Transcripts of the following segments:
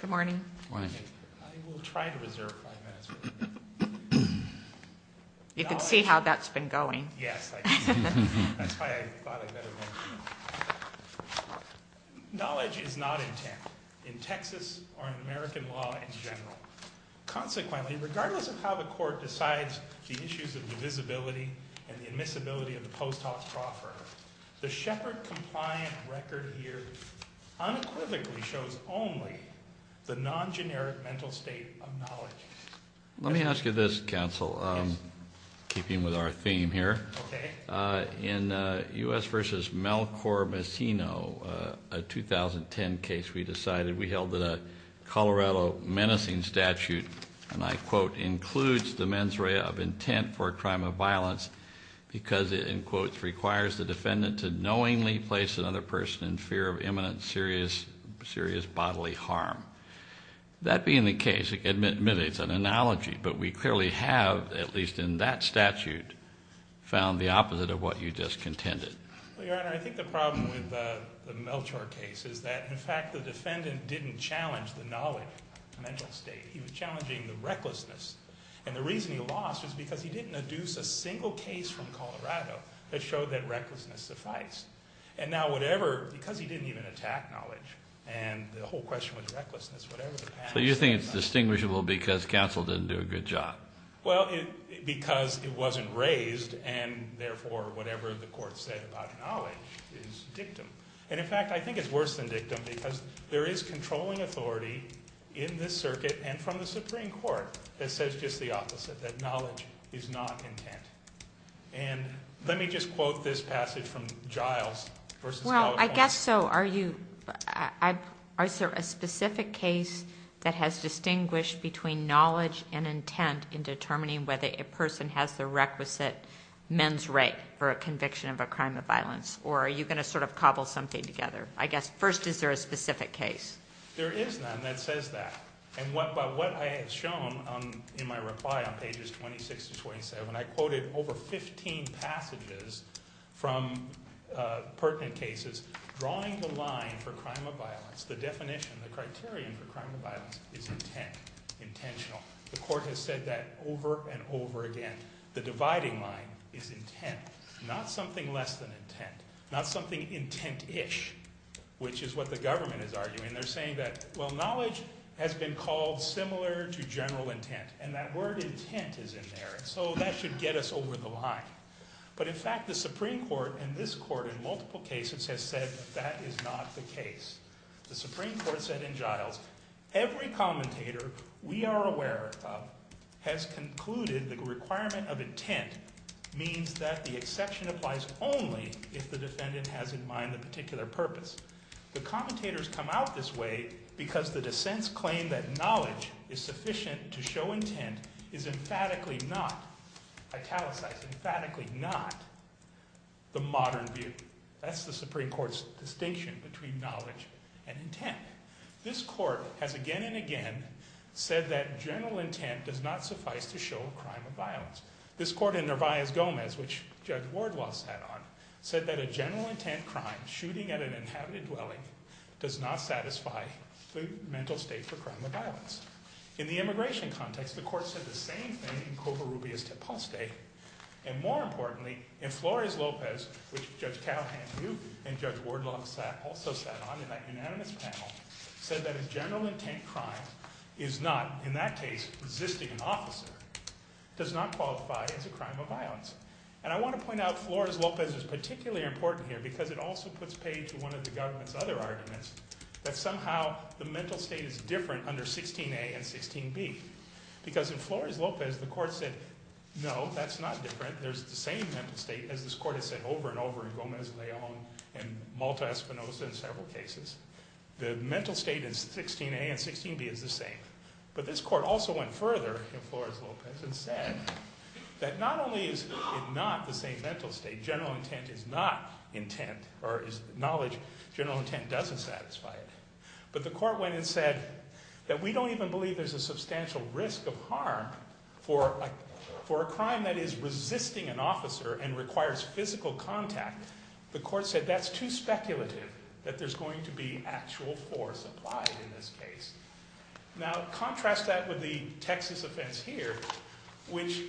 Good morning. I will try to reserve five minutes. You can see how that's been going. Yes, that's why I thought I'd better mention it. Knowledge is not intent in Texas or in American law in general. Consequently, regardless of how the court decides the issues of divisibility and the admissibility of the post hoc proffer, the Shepard compliant record here unequivocally shows only the non-generic mental state of knowledge. Let me ask you this, counsel, keeping with our theme here. In U.S. v. Melchor Messino, a 2010 case we decided, we held that a Colorado menacing statute, and I quote, includes the mens rea of intent for a crime of violence because it, in quotes, requires the defendant to knowingly place another person in fear of imminent serious bodily harm. That being the case, admittedly it's an analogy, but we clearly have, at least in that statute, found the opposite of what you just contended. Your Honor, I think the problem with the Melchor case is that, in fact, the defendant didn't challenge the knowledge mental state. He was challenging the recklessness. And the reason he lost is because he didn't adduce a single case from Colorado that showed that recklessness sufficed. And now whatever, because he didn't even attack knowledge, and the whole question was recklessness. So you think it's distinguishable because counsel didn't do a good job? Well, because it wasn't raised and, therefore, whatever the court said about knowledge is dictum. And, in fact, I think it's worse than dictum because there is controlling authority in this circuit and from the Supreme Court that says just the opposite, that knowledge is not intent. And let me just quote this passage from Giles v. California. I guess so. Are you, is there a specific case that has distinguished between knowledge and intent in determining whether a person has the requisite men's right for a conviction of a crime of violence? Or are you going to sort of cobble something together? I guess, first, is there a specific case? There is none that says that. And by what I have shown in my reply on pages 26 to 27, I quoted over 15 passages from pertinent cases drawing the line for crime of violence. The definition, the criterion for crime of violence is intent, intentional. The court has said that over and over again. The dividing line is intent, not something less than intent, not something intent-ish, which is what the government is arguing. They're saying that, well, knowledge has been called similar to general intent. And that word intent is in there. So that should get us over the line. But in fact, the Supreme Court in this court in multiple cases has said that is not the case. The Supreme Court said in Giles, every commentator we are aware of has concluded the requirement of intent means that the exception applies only if the defendant has in mind a particular purpose. The commentators come out this way because the dissents claim that knowledge is sufficient to show intent is emphatically not italicized, emphatically not the modern view. That's the Supreme Court's distinction between knowledge and intent. This court has again and again said that general intent does not suffice to show a crime of violence. This court in Nervais-Gomez, which Judge Wardlaw sat on, said that a general intent crime, shooting at an inhabited dwelling, does not satisfy the mental state for crime of violence. In the immigration context, the court said the same thing in Covarrubias-Teposte. And more importantly, in Flores-Lopez, which Judge Calhoun and Judge Wardlaw also sat on in that unanimous panel, said that a general intent crime is not, in that case, resisting an officer, does not qualify as a crime of violence. And I want to point out Flores-Lopez is particularly important here because it also puts paid to one of the government's other arguments that somehow the mental state is different under 16a and 16b. Because in Flores-Lopez, the court said, no, that's not different. There's the same mental state as this court has said over and over in Gomez-Leon and Malta-Espinosa in several cases. The mental state is 16a and 16b is the same. But this court also went further in Flores-Lopez and said that not only is it not the same mental state, general intent is not intent or is knowledge general intent doesn't satisfy it. But the court went and said that we don't even believe there's a substantial risk of harm for a crime that is resisting an officer and requires physical contact. The court said that's too speculative, that there's going to be actual force applied in this case. Now contrast that with the Texas offense here, which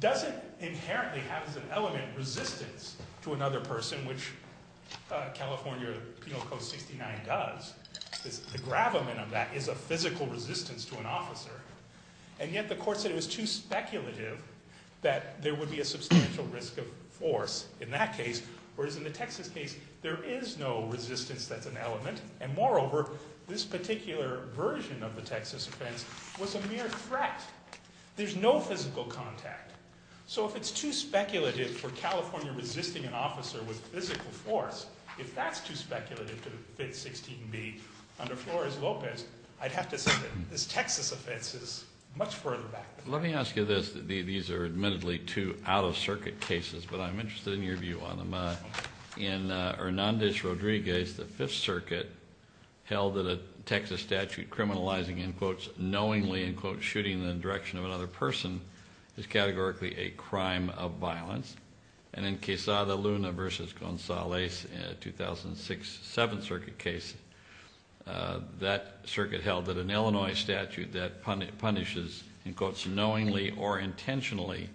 doesn't inherently have as an element resistance to another person, which California Penal Code 69 does. The gravamen of that is a physical resistance to an officer. And yet the court said it was too speculative that there would be a substantial risk of force in that case. Whereas in the Texas case, there is no resistance that's an element. And moreover, this particular version of the Texas offense was a mere threat. There's no physical contact. So if it's too speculative for California resisting an officer with physical force, if that's too speculative to fit 16b under Flores-Lopez, I'd have to say that this Texas offense is much further back than that. Let me ask you this. These are admittedly two out of circuit cases, but I'm interested in your view on them. In Hernandez-Rodriguez, the Fifth Circuit held that a Texas statute criminalizing in quotes knowingly in quotes shooting in the direction of another person is categorically a crime of violence. And in Quesada Luna v. Gonzalez, a 2006 Seventh Circuit case, that circuit held that an Illinois statute that punishes in quotes knowingly or intentionally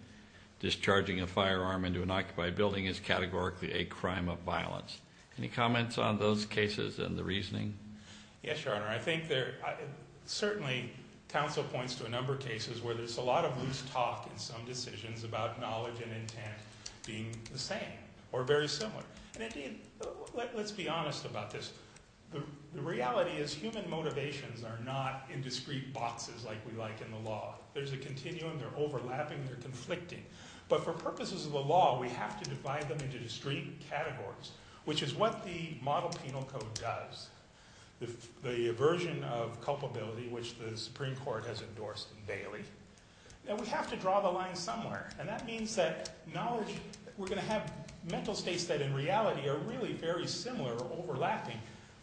discharging a firearm into an occupied building is categorically a crime of violence. Any comments on those cases and the reasoning? Yes, Your Honor. I think certainly counsel points to a number of cases where there's a lot of loose talk in some decisions about knowledge and intent being the same or very similar. And indeed, let's be honest about this. The reality is human motivations are not in discrete boxes like we like in the law. There's a continuum. They're overlapping. They're conflicting. But for purposes of the law, we have to divide them into discrete categories, which is what the model penal code does. The version of culpability, which the Supreme Court has endorsed daily. Now, we have to draw the line somewhere, and that means that knowledge, we're going to have mental states that in reality are really very similar or overlapping.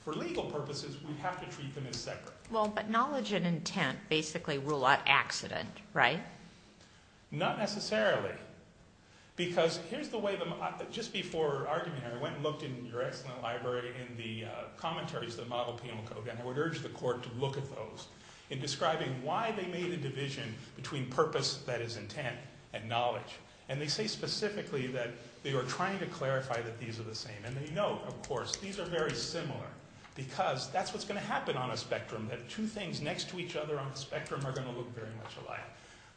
For legal purposes, we have to treat them as separate. Well, but knowledge and intent basically rule out accident, right? Not necessarily, because here's the way the – just before arguing, I went and looked in your excellent library in the commentaries of the model penal code, and I would urge the court to look at those in describing why they made a division between purpose, that is, intent, and knowledge. And they say specifically that they are trying to clarify that these are the same. And they know, of course, these are very similar because that's what's going to happen on a spectrum, that two things next to each other on the spectrum are going to look very much alike.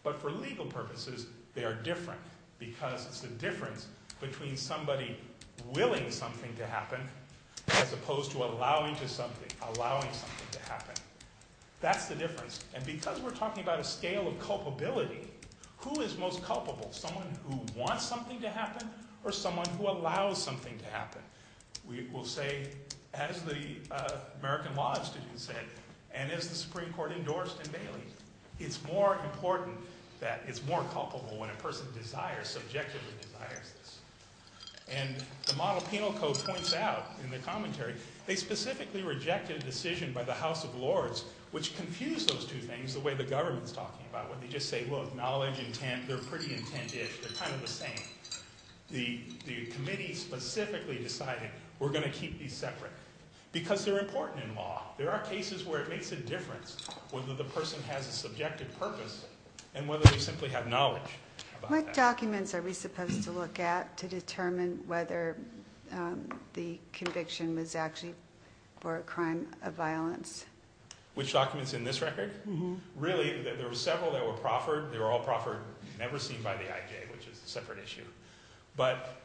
But for legal purposes, they are different because it's the difference between somebody willing something to happen as opposed to allowing something to happen. That's the difference. And because we're talking about a scale of culpability, who is most culpable, someone who wants something to happen or someone who allows something to happen? We will say, as the American Law Institute said, and as the Supreme Court endorsed in Bailey, it's more important that it's more culpable when a person desires, subjectively desires this. And the model penal code points out in the commentary, they specifically rejected a decision by the House of Lords which confused those two things, the way the government is talking about it, where they just say, well, knowledge, intent, they're pretty intent-ish. They're kind of the same. The committee specifically decided we're going to keep these separate because they're important in law. There are cases where it makes a difference whether the person has a subjective purpose and whether they simply have knowledge about that. What documents are we supposed to look at to determine whether the conviction was actually for a crime of violence? Which documents in this record? Really, there were several that were proffered. They were all proffered, never seen by the IJ, which is a separate issue. But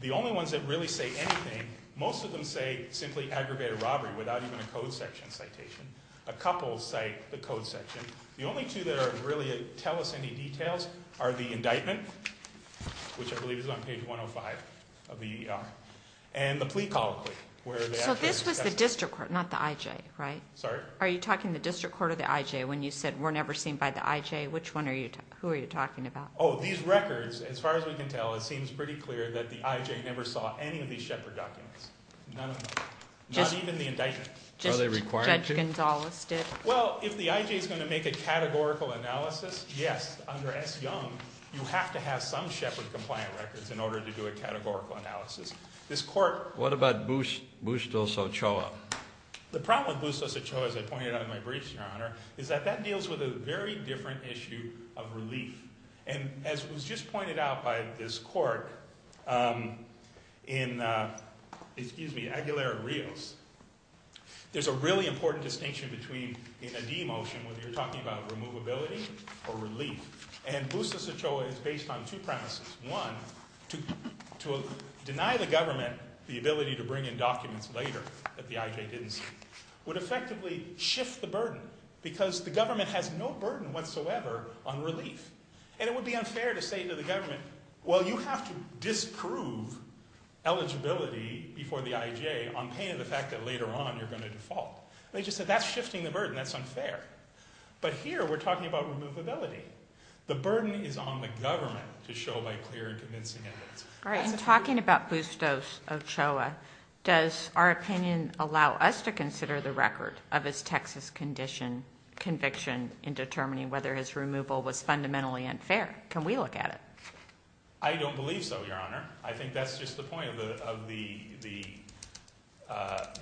the only ones that really say anything, most of them say simply aggravated robbery without even a code section citation. A couple cite the code section. The only two that really tell us any details are the indictment, which I believe is on page 105 of the ER, and the plea colloquy. So this was the district court, not the IJ, right? Sorry? Are you talking the district court or the IJ when you said we're never seen by the IJ? Who are you talking about? Oh, these records, as far as we can tell, it seems pretty clear that the IJ never saw any of these Shepard documents. None of them. Not even the indictment. Are they required to? Judge Gonzales did. Well, if the IJ is going to make a categorical analysis, yes, under S. Young, you have to have some Shepard-compliant records in order to do a categorical analysis. What about Bustos Ochoa? The problem with Bustos Ochoa, as I pointed out in my briefs, Your Honor, is that that deals with a very different issue of relief. And as was just pointed out by this court in Aguilera-Rios, there's a really important distinction between in a demotion, whether you're talking about removability or relief. And Bustos Ochoa is based on two premises. One, to deny the government the ability to bring in documents later that the IJ didn't see would effectively shift the burden because the government has no burden whatsoever on relief. And it would be unfair to say to the government, well, you have to disprove eligibility before the IJ on pain of the fact that later on you're going to default. They just said that's shifting the burden. That's unfair. But here we're talking about removability. The burden is on the government to show by clear and convincing evidence. And talking about Bustos Ochoa, does our opinion allow us to consider the record of his Texas conviction in determining whether his removal was fundamentally unfair? Can we look at it? I don't believe so, Your Honor. I think that's just the point of the,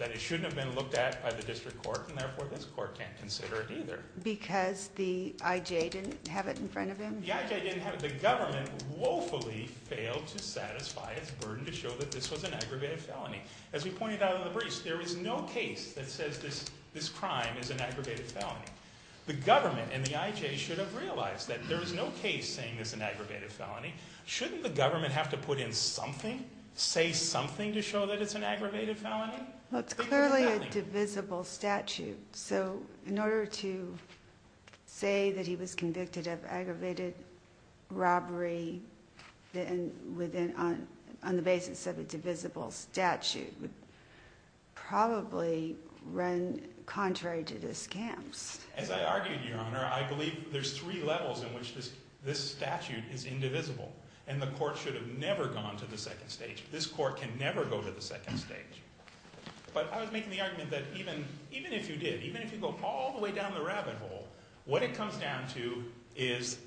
that it shouldn't have been looked at by the district court and therefore this court can't consider it either. Because the IJ didn't have it in front of him? The IJ didn't have it. The government woefully failed to satisfy its burden to show that this was an aggravated felony. As we pointed out in the briefs, there is no case that says this crime is an aggravated felony. The government and the IJ should have realized that there is no case saying this is an aggravated felony. Shouldn't the government have to put in something, say something to show that it's an aggravated felony? It's clearly a divisible statute. So in order to say that he was convicted of aggravated robbery on the basis of a divisible statute would probably run contrary to the scams. As I argued, Your Honor, I believe there's three levels in which this statute is indivisible. And the court should have never gone to the second stage. This court can never go to the second stage. But I was making the argument that even if you did, even if you go all the way down the rabbit hole, what it comes down to is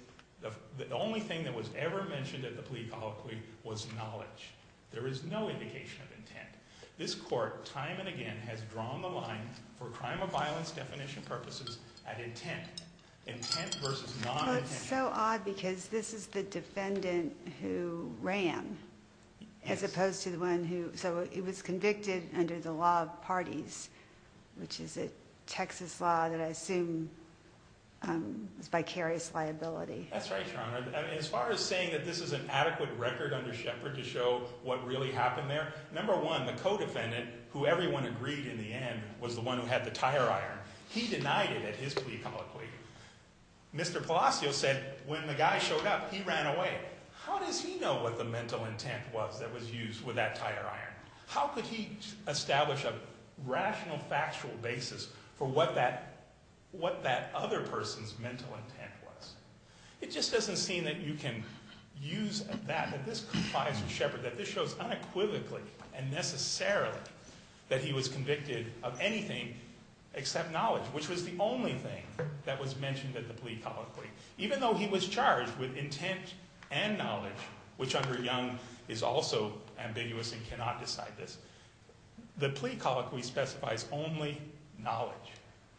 the only thing that was ever mentioned at the plea colloquy was knowledge. There is no indication of intent. This court time and again has drawn the line for crime of violence definition purposes at intent. Intent versus non-intent. Well, it's so odd because this is the defendant who ran as opposed to the one who... So he was convicted under the law of parties, which is a Texas law that I assume is vicarious liability. That's right, Your Honor. As far as saying that this is an adequate record under Shepard to show what really happened there, number one, the co-defendant, who everyone agreed in the end was the one who had the tire iron, he denied it at his plea colloquy. Mr. Palacio said when the guy showed up, he ran away. How does he know what the mental intent was that was used with that tire iron? How could he establish a rational, factual basis for what that other person's mental intent was? It just doesn't seem that you can use that, that this complies with Shepard, that this shows unequivocally and necessarily that he was convicted of anything except knowledge, which was the only thing that was mentioned at the plea colloquy. Even though he was charged with intent and knowledge, which under Young is also ambiguous and cannot decide this, the plea colloquy specifies only knowledge.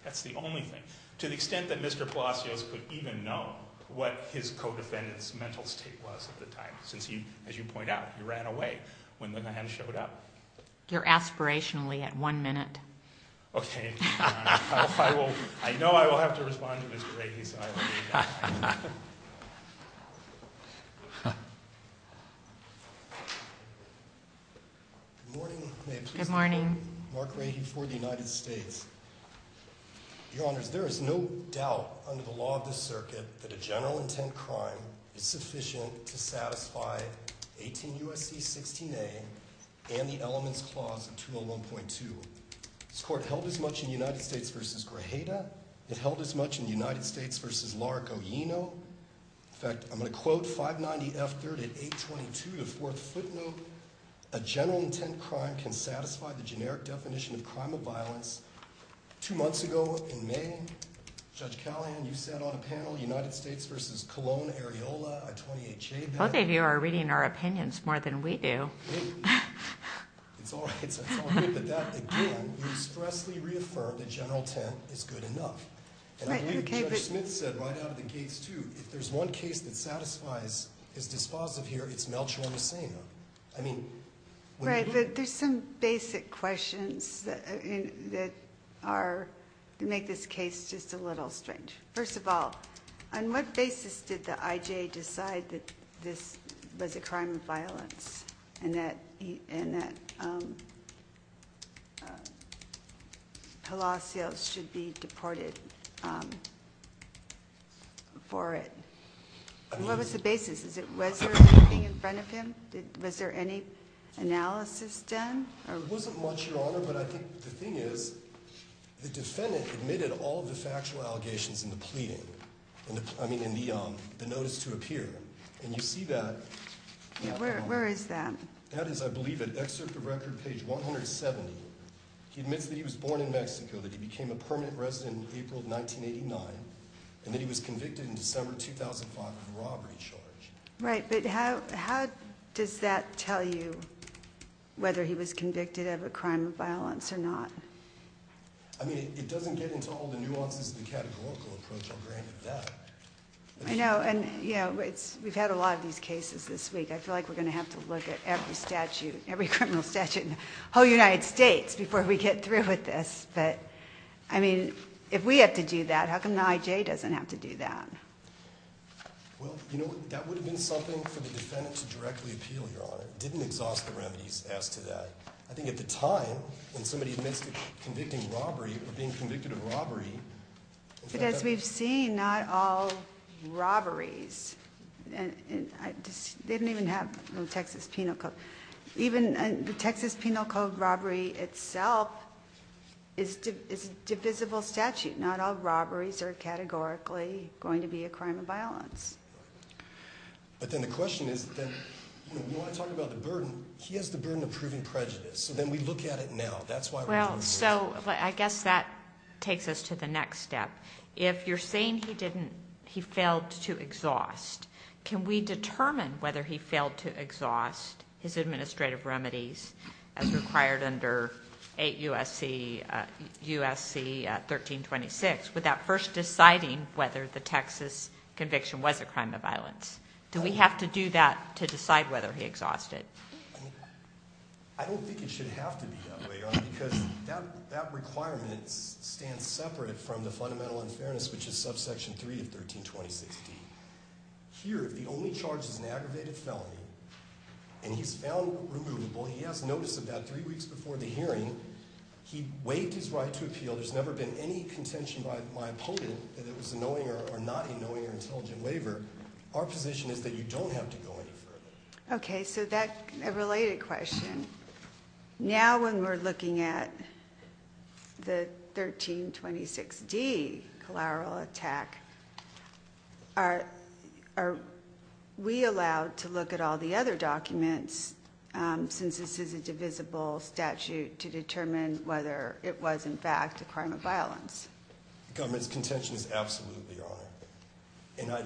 That's the only thing. To the extent that Mr. Palacios could even know what his co-defendant's mental state was at the time, since he, as you point out, he ran away when the guy showed up. You're aspirationally at one minute. Okay. I know I will have to respond to Mr. Rakey, so I won't do that. Good morning. Good morning. Mark Rakey for the United States. Your Honors, there is no doubt under the law of this circuit that a general intent crime is sufficient to satisfy 18 U.S.C. 16A and the elements clause in 201.2. This court held as much in United States v. Grajeda. It held as much in United States v. Larrick O'Eno. In fact, I'm going to quote 590 F. 3rd and 822, the fourth footnote, a general intent crime can satisfy the generic definition of crime of violence. Two months ago in May, Judge Callahan, you said on a panel, United States v. Colon, Areola, a 28-J. Both of you are reading our opinions more than we do. It's all right. It's all good. But that, again, you expressly reaffirmed that general intent is good enough. And I believe Judge Smith said right out of the gates, too, that if there's one case that satisfies, is dispositive here, it's Melchor Messina. I mean, when you get- Right. There's some basic questions that make this case just a little strange. First of all, on what basis did the I.J. decide that this was a crime of violence and that Palacios should be deported for it? What was the basis? Was there anything in front of him? Was there any analysis done? It wasn't much, Your Honor. No, but I think the thing is the defendant admitted all of the factual allegations in the pleading, I mean, in the notice to appear. And you see that- Where is that? That is, I believe, at Excerpt of Record, page 170. He admits that he was born in Mexico, that he became a permanent resident in April of 1989, and that he was convicted in December 2005 of a robbery charge. Right, but how does that tell you whether he was convicted of a crime of violence or not? I mean, it doesn't get into all the nuances of the categorical approach, I'll grant you that. I know, and we've had a lot of these cases this week. I feel like we're going to have to look at every criminal statute in the whole United States before we get through with this. But, I mean, if we have to do that, how come the I.J. doesn't have to do that? Well, you know what, that would have been something for the defendant to directly appeal, Your Honor. It didn't exhaust the remedies as to that. I think at the time, when somebody admits to convicting robbery or being convicted of robbery- But as we've seen, not all robberies- They didn't even have the Texas Penal Code. Even the Texas Penal Code robbery itself is a divisible statute. Not all robberies are categorically going to be a crime of violence. But then the question is, we want to talk about the burden. He has the burden of proving prejudice, so then we look at it now. That's why- Well, so I guess that takes us to the next step. If you're saying he failed to exhaust, can we determine whether he failed to exhaust his administrative remedies as required under 8 U.S.C. 1326 without first deciding whether the Texas conviction was a crime of violence? Do we have to do that to decide whether he exhausted? I don't think it should have to be that way, Your Honor, because that requirement stands separate from the fundamental unfairness, which is subsection 3 of 1326D. Here, the only charge is an aggravated felony, and he's found removable. He has notice about three weeks before the hearing. He waived his right to appeal. There's never been any contention by my opponent that it was a knowing or not a knowing or intelligent waiver. Our position is that you don't have to go any further. Okay, so that related question. Now when we're looking at the 1326D collateral attack, are we allowed to look at all the other documents since this is a divisible statute to determine whether it was, in fact, a crime of violence? The government's contention is absolutely, Your Honor.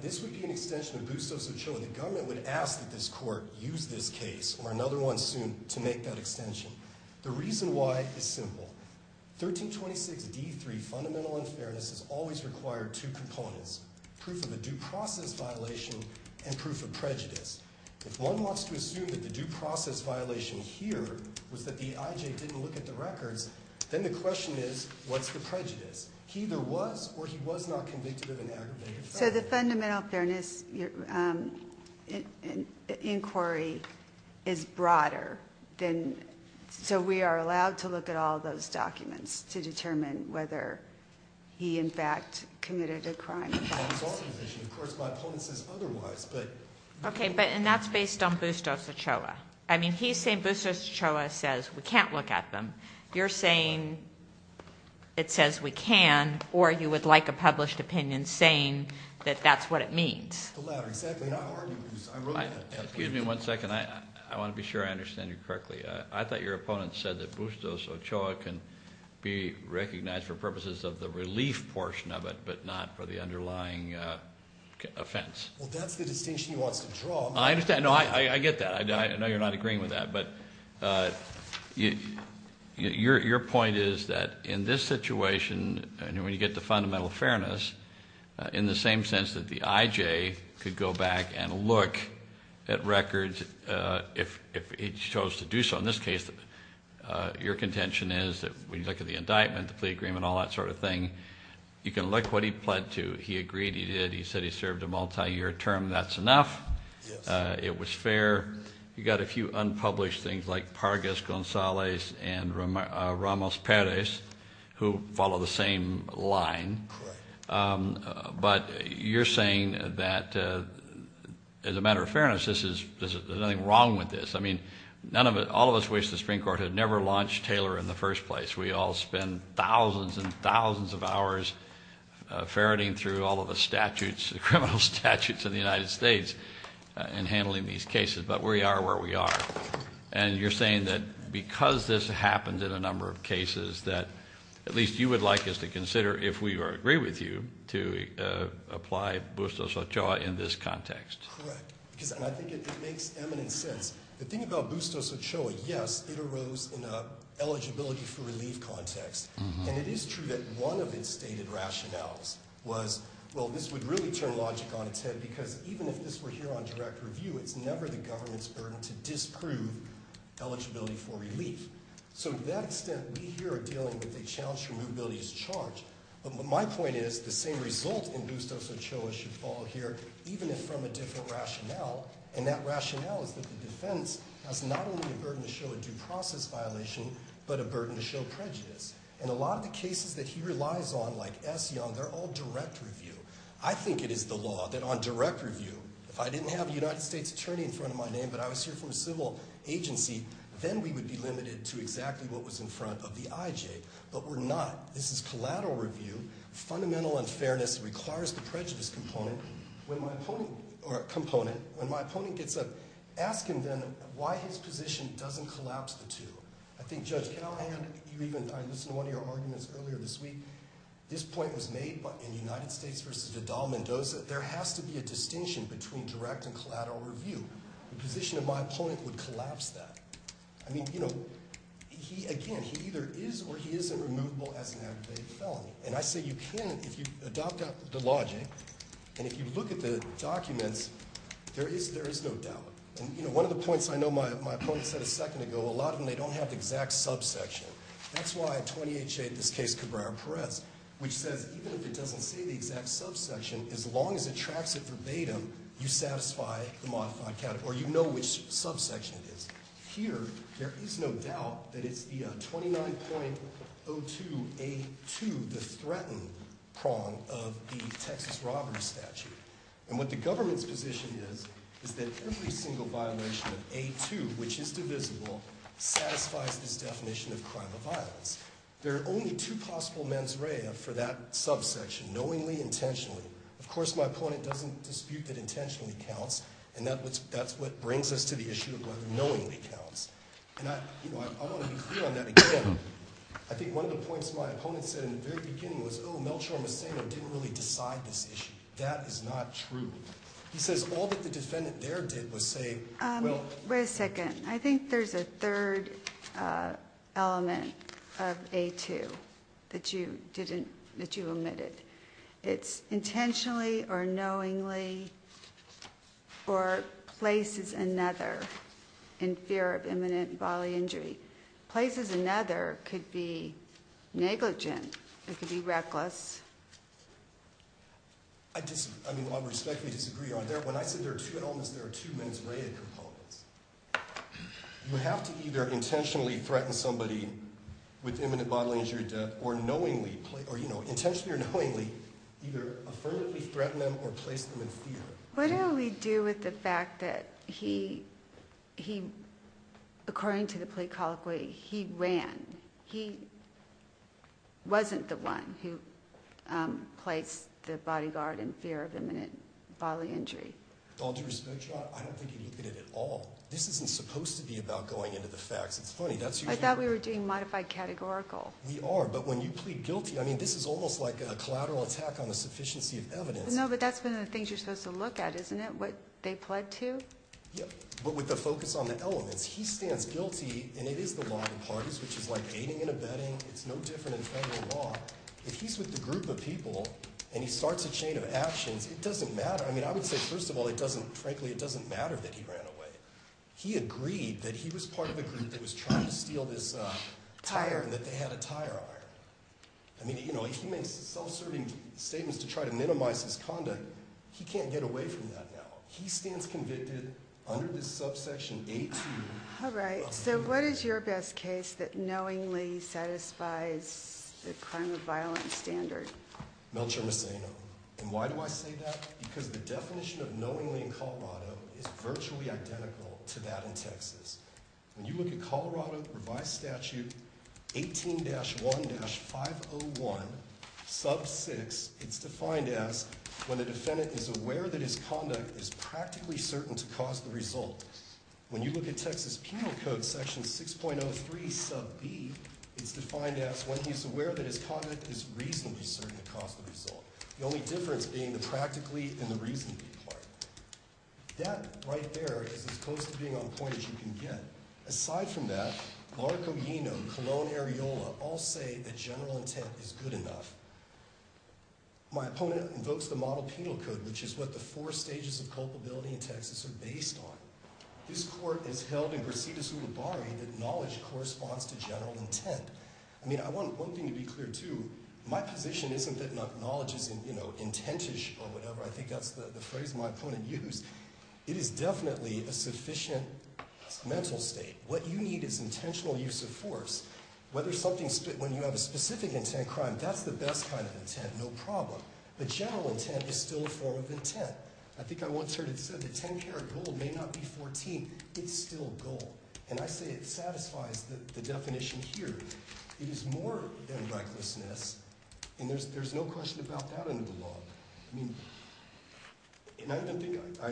This would be an extension of Bustos v. Chillin. So the government would ask that this court use this case or another one soon to make that extension. The reason why is simple. 1326D.3, Fundamental Unfairness, has always required two components, proof of a due process violation and proof of prejudice. If one wants to assume that the due process violation here was that the I.J. didn't look at the records, then the question is, what's the prejudice? He either was or he was not convicted of an aggravated felony. So the Fundamental Fairness inquiry is broader. So we are allowed to look at all those documents to determine whether he, in fact, committed a crime of violence. Of course, my opponent says otherwise. Okay, and that's based on Bustos v. Chillin. I mean, he's saying Bustos v. Chillin says we can't look at them. You're saying it says we can, or you would like a published opinion saying that that's what it means. The latter, exactly. Excuse me one second. I want to be sure I understand you correctly. I thought your opponent said that Bustos v. Chillin can be recognized for purposes of the relief portion of it but not for the underlying offense. Well, that's the distinction he wants to draw. I understand. No, I get that. I know you're not agreeing with that. But your point is that in this situation, and when you get to Fundamental Fairness, in the same sense that the IJ could go back and look at records if he chose to do so, in this case, your contention is that when you look at the indictment, the plea agreement, all that sort of thing, you can look at what he pled to. He agreed, he did, he said he served a multiyear term, that's enough. It was fair. You've got a few unpublished things like Pargas-Gonzalez and Ramos-Perez who follow the same line. But you're saying that, as a matter of fairness, there's nothing wrong with this. All of us wish the Supreme Court had never launched Taylor in the first place. We all spend thousands and thousands of hours ferreting through all of the statutes, the criminal statutes in the United States in handling these cases. But we are where we are. And you're saying that because this happens in a number of cases, that at least you would like us to consider if we agree with you to apply bustos ochoa in this context. Correct. Because I think it makes eminent sense. The thing about bustos ochoa, yes, it arose in an eligibility for relief context. And it is true that one of its stated rationales was, well, this would really turn logic on its head, because even if this were here on direct review, it's never the government's burden to disprove eligibility for relief. So to that extent, we here are dealing with a challenge for mobility as charged. But my point is the same result in bustos ochoa should fall here, even if from a different rationale. And that rationale is that the defense has not only a burden to show a due process violation, but a burden to show prejudice. And a lot of the cases that he relies on, like S. Young, they're all direct review. I think it is the law that on direct review, if I didn't have a United States attorney in front of my name, but I was here from a civil agency, then we would be limited to exactly what was in front of the IJ. But we're not. This is collateral review. Fundamental unfairness requires the prejudice component. When my opponent gets up, ask him then why his position doesn't collapse the two. I think, Judge Callahan, you even, I listened to one of your arguments earlier this week. This point was made in United States v. Vidal-Mendoza. There has to be a distinction between direct and collateral review. The position of my opponent would collapse that. I mean, you know, he, again, he either is or he isn't removable as an aggravated felony. And I say you can if you adopt the logic, and if you look at the documents, there is no doubt. And, you know, one of the points I know my opponent said a second ago, a lot of them, they don't have the exact subsection. That's why 28J, in this case, Cabrera-Perez, which says even if it doesn't say the exact subsection, as long as it tracks it verbatim, you satisfy the modified category. You know which subsection it is. Here, there is no doubt that it's the 29.02A2, the threatened prong of the Texas robbery statute. And what the government's position is, is that every single violation of A2, which is divisible, satisfies this definition of crime of violence. There are only two possible mens rea for that subsection, knowingly, intentionally. Of course, my opponent doesn't dispute that intentionally counts, and that's what brings us to the issue of whether knowingly counts. And I, you know, I want to be clear on that again. I think one of the points my opponent said in the very beginning was, oh, I'm not sure I'm saying they didn't really decide this issue. That is not true. He says all that the defendant there did was say, well. Wait a second. I think there's a third element of A2 that you omitted. It's intentionally or knowingly or places another in fear of imminent bodily injury. Places another could be negligent. It could be reckless. I mean, I respectfully disagree on that. When I said there are two elements, there are two mens rea components. You have to either intentionally threaten somebody with imminent bodily injury or knowingly, or, you know, intentionally or knowingly either affirmatively threaten them or place them in fear. What do we do with the fact that he, according to the plea colloquy, he ran? He wasn't the one who placed the bodyguard in fear of imminent bodily injury. All due respect, Your Honor, I don't think you look at it at all. This isn't supposed to be about going into the facts. It's funny. I thought we were doing modified categorical. We are. But when you plead guilty, I mean, this is almost like a collateral attack on the sufficiency of evidence. No, but that's one of the things you're supposed to look at, isn't it, what they pled to? Yeah, but with the focus on the elements. He stands guilty, and it is the law of the parties, which is like aiding and abetting. It's no different in federal law. If he's with a group of people and he starts a chain of actions, it doesn't matter. I mean, I would say, first of all, it doesn't, frankly, it doesn't matter that he ran away. He agreed that he was part of a group that was trying to steal this tire and that they had a tire iron. I mean, you know, he makes self-serving statements to try to minimize his conduct. He can't get away from that now. He stands convicted under this subsection 18. All right. So what is your best case that knowingly satisfies the crime of violence standard? Melchor Moceno. And why do I say that? Because the definition of knowingly in Colorado is virtually identical to that in Texas. When you look at Colorado revised statute 18-1-501 sub 6, it's defined as when the defendant is aware that his conduct is practically certain to cause the result. When you look at Texas penal code section 6.03 sub B, it's defined as when he's aware that his conduct is reasonably certain to cause the result. The only difference being the practically and the reasonably part. That right there is as close to being on point as you can get. Aside from that, Larco, Yeno, Colon, Areola all say that general intent is good enough. My opponent invokes the model penal code, which is what the four stages of culpability in Texas are based on. This court has held in Brasidas Ulibarri that knowledge corresponds to general intent. I mean, I want one thing to be clear, too. My position isn't that knowledge is, you know, intentish or whatever. I think that's the phrase my opponent used. It is definitely a sufficient mental state. What you need is intentional use of force. Whether something's when you have a specific intent crime, that's the best kind of intent, no problem. But general intent is still a form of intent. I think I once heard it said that 10 karat gold may not be 14. It's still gold. And I say it satisfies the definition here. It is more than recklessness. And there's no question about that under the law. I mean, and I don't think I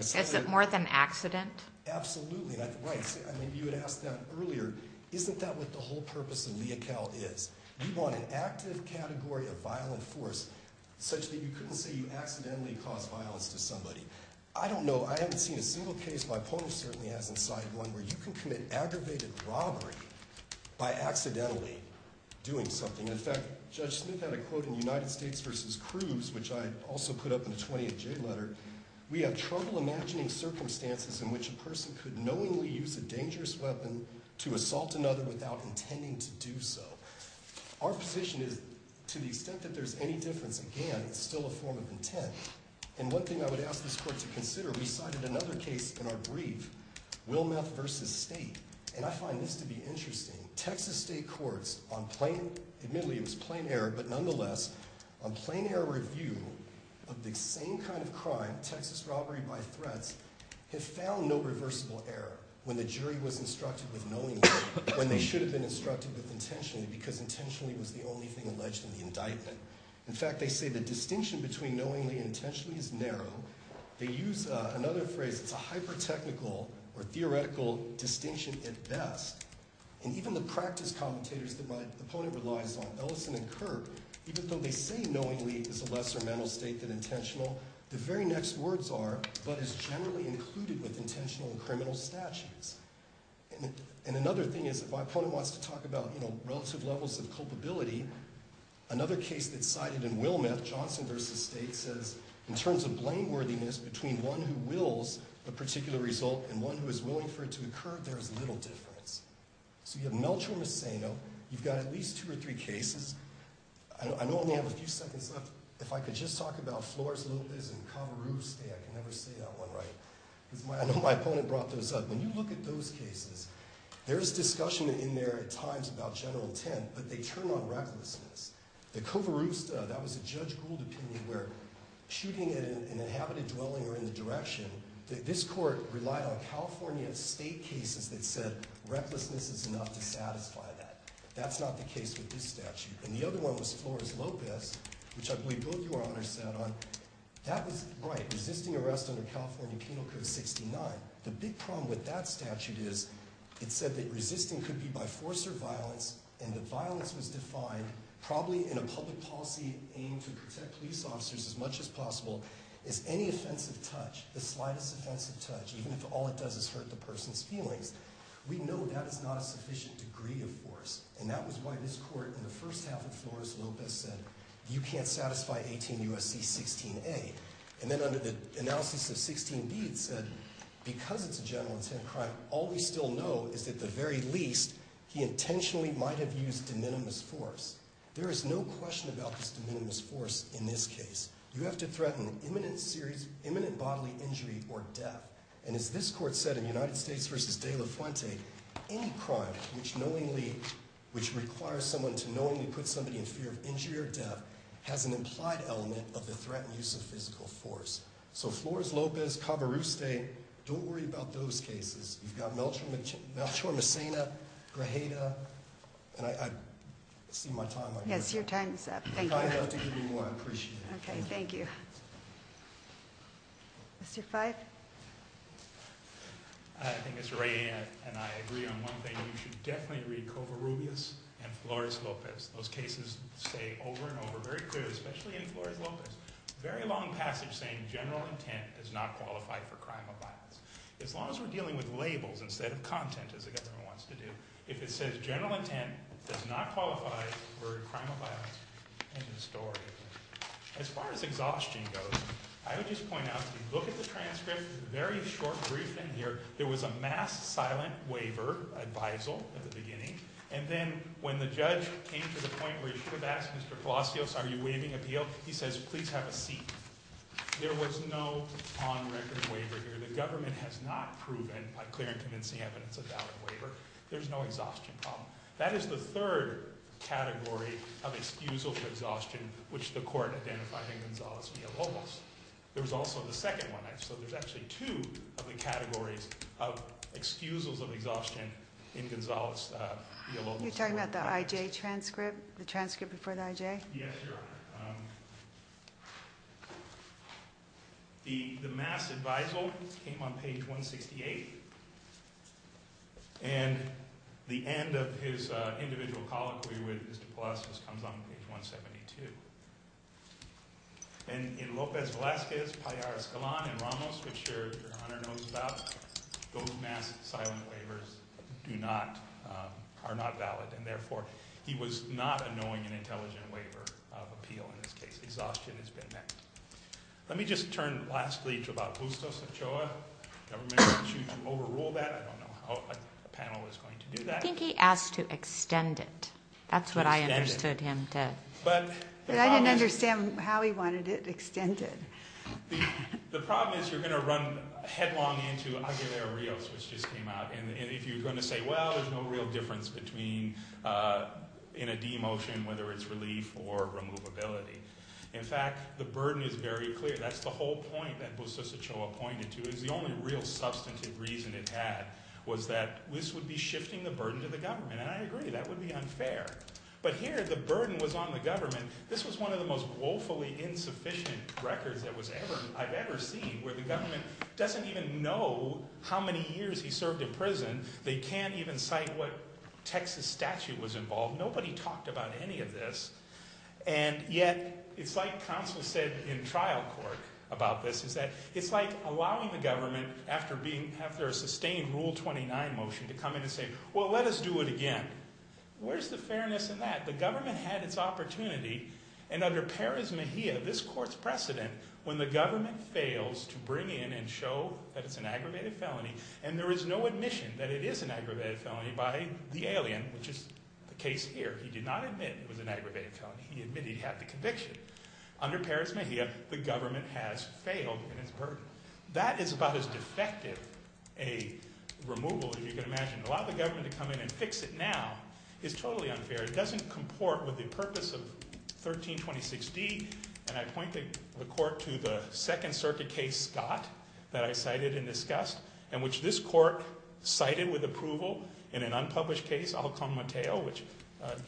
said that. Is it more than accident? Absolutely. Right. I mean, you had asked that earlier. Isn't that what the whole purpose of lea cal is? You want an active category of violent force such that you couldn't say you accidentally caused violence to somebody. I don't know. I haven't seen a single case. My opponent certainly hasn't cited one where you can commit aggravated robbery by accidentally doing something. In fact, Judge Smith had a quote in United States v. Cruz, which I also put up in the 20th J letter. We have trouble imagining circumstances in which a person could knowingly use a dangerous weapon to assault another without intending to do so. Our position is to the extent that there's any difference, again, it's still a form of intent. And one thing I would ask this court to consider, we cited another case in our brief, Wilmeth v. State. And I find this to be interesting. Texas state courts on plain, admittedly it was plain error, but nonetheless, on plain error review of the same kind of crime, Texas robbery by threats, have found no reversible error when the jury was instructed with knowingly, when they should have been instructed with intentionally, because intentionally was the only thing alleged in the indictment. In fact, they say the distinction between knowingly and intentionally is narrow. They use another phrase, it's a hyper-technical or theoretical distinction at best. And even the practice commentators that my opponent relies on, Ellison and Kirk, even though they say knowingly is a lesser mental state than intentional, the very next words are, but is generally included with intentional and criminal statutes. And another thing is, if my opponent wants to talk about, you know, relative levels of culpability, another case that's cited in Wilmeth, Johnson v. State, says, in terms of blameworthiness between one who wills a particular result and one who is willing for it to occur, there is little difference. So you have Melchor Moceno, you've got at least two or three cases. I know I only have a few seconds left. If I could just talk about Flores Lopez and Covarruste, I can never say that one right. I know my opponent brought those up. When you look at those cases, there is discussion in there at times about general intent, but they turn on recklessness. The Covarruste, that was a Judge Gould opinion where shooting at an inhabited dwelling or in the direction, this court relied on California state cases that said recklessness is enough to satisfy that. That's not the case with this statute. And the other one was Flores Lopez, which I believe both your honors sat on. That was, right, resisting arrest under California Penal Code 69. The big problem with that statute is it said that resisting could be by force or violence, and that violence was defined probably in a public policy aimed to protect police officers as much as possible as any offensive touch, the slightest offensive touch, even if all it does is hurt the person's feelings. We know that is not a sufficient degree of force, and that was why this court in the first half of Flores Lopez said you can't satisfy 18 U.S.C. 16A. And then under the analysis of 16B, it said because it's a general intent crime, all we still know is at the very least he intentionally might have used de minimis force. There is no question about this de minimis force in this case. You have to threaten imminent bodily injury or death. And as this court said in United States v. De La Fuente, any crime which requires someone to knowingly put somebody in fear of injury or death has an implied element of the threatened use of physical force. So Flores Lopez, Covarrubias, don't worry about those cases. You've got Melchor Messina, Grajeda, and I see my time up here. Yes, your time is up. Thank you. If I have to give you more, I'd appreciate it. Okay, thank you. Mr. Fyfe? I think it's right and I agree on one thing. You should definitely read Covarrubias and Flores Lopez. Those cases stay over and over, very clear, especially in Flores Lopez. Very long passage saying general intent does not qualify for crime of violence. As long as we're dealing with labels instead of content, as the government wants to do, if it says general intent does not qualify for a crime of violence, end of story. As far as exhaustion goes, I would just point out, if you look at the transcript, very short brief in here, there was a mass silent waiver, advisal at the beginning, and then when the judge came to the point where you could have asked Mr. Palacios, are you waiving appeal? He says, please have a seat. There was no on-record waiver here. The government has not proven by clear and convincing evidence a valid waiver. There's no exhaustion problem. That is the third category of excusal for exhaustion, which the court identified in Gonzales v. Olmos. There was also the second one. So there's actually two of the categories of excusals of exhaustion in Gonzales v. Olmos. You're talking about the IJ transcript, the transcript before the IJ? Yes, Your Honor. The mass advisal came on page 168, and the end of his individual colloquy with Mr. Palacios comes on page 172. And in Lopez Velazquez, Palliar Escalon, and Ramos, which Your Honor knows about, those mass silent waivers do not, are not valid, and therefore he was not annoying an intelligent waiver of appeal in this case. Exhaustion has been met. Let me just turn lastly to Barbustos Ochoa. The government wants you to overrule that. I don't know how a panel is going to do that. I think he asked to extend it. That's what I understood him to. But I didn't understand how he wanted it extended. The problem is you're going to run headlong into Aguilera-Rios, which just came out, and if you're going to say, well, there's no real difference between in a demotion, whether it's relief or removability. In fact, the burden is very clear. That's the whole point that Bustos Ochoa pointed to is the only real substantive reason it had was that this would be shifting the burden to the government, and I agree that would be unfair. But here the burden was on the government. This was one of the most woefully insufficient records I've ever seen where the government doesn't even know how many years he served in prison. They can't even cite what Texas statute was involved. Nobody talked about any of this, and yet it's like counsel said in trial court about this, is that it's like allowing the government after a sustained Rule 29 motion to come in and say, well, let us do it again. Where's the fairness in that? The government had its opportunity, and under Perez Mejia, this court's precedent, when the government fails to bring in and show that it's an aggravated felony and there is no admission that it is an aggravated felony by the alien, which is the case here. He did not admit it was an aggravated felony. He admitted he had the conviction. Under Perez Mejia, the government has failed in its burden. That is about as defective a removal as you can imagine. To allow the government to come in and fix it now is totally unfair. It doesn't comport with the purpose of 1326D, and I point the court to the Second Circuit case, Scott, that I cited and discussed, and which this court cited with approval in an unpublished case, Alcon Mateo, which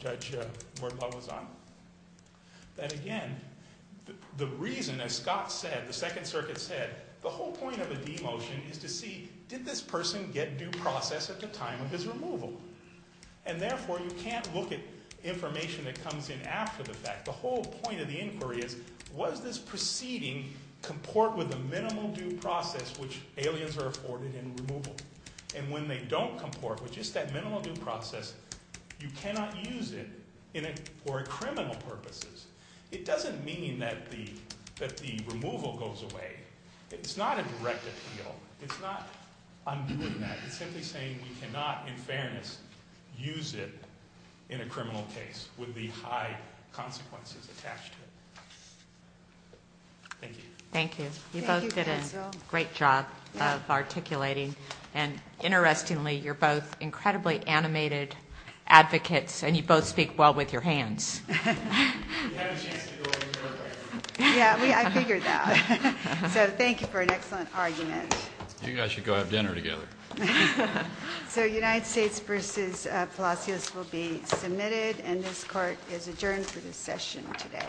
Judge Wortlaw was on. Again, the reason, as Scott said, the Second Circuit said, the whole point of a demotion is to see, did this person get due process at the time of his removal? Therefore, you can't look at information that comes in after the fact. The whole point of the inquiry is, was this proceeding comport with the minimal due process which aliens are afforded in removal? When they don't comport with just that minimal due process, you cannot use it for criminal purposes. It doesn't mean that the removal goes away. It's not a direct appeal. It's not undoing that. It's simply saying we cannot, in fairness, use it in a criminal case with the high consequences attached to it. Thank you. Thank you. You both did a great job of articulating, and interestingly, you're both incredibly animated advocates, and you both speak well with your hands. You had a chance to go over to her place. Yeah, I figured that. So thank you for an excellent argument. You guys should go have dinner together. So United States v. Palacios will be submitted, and this Court is adjourned for this session today.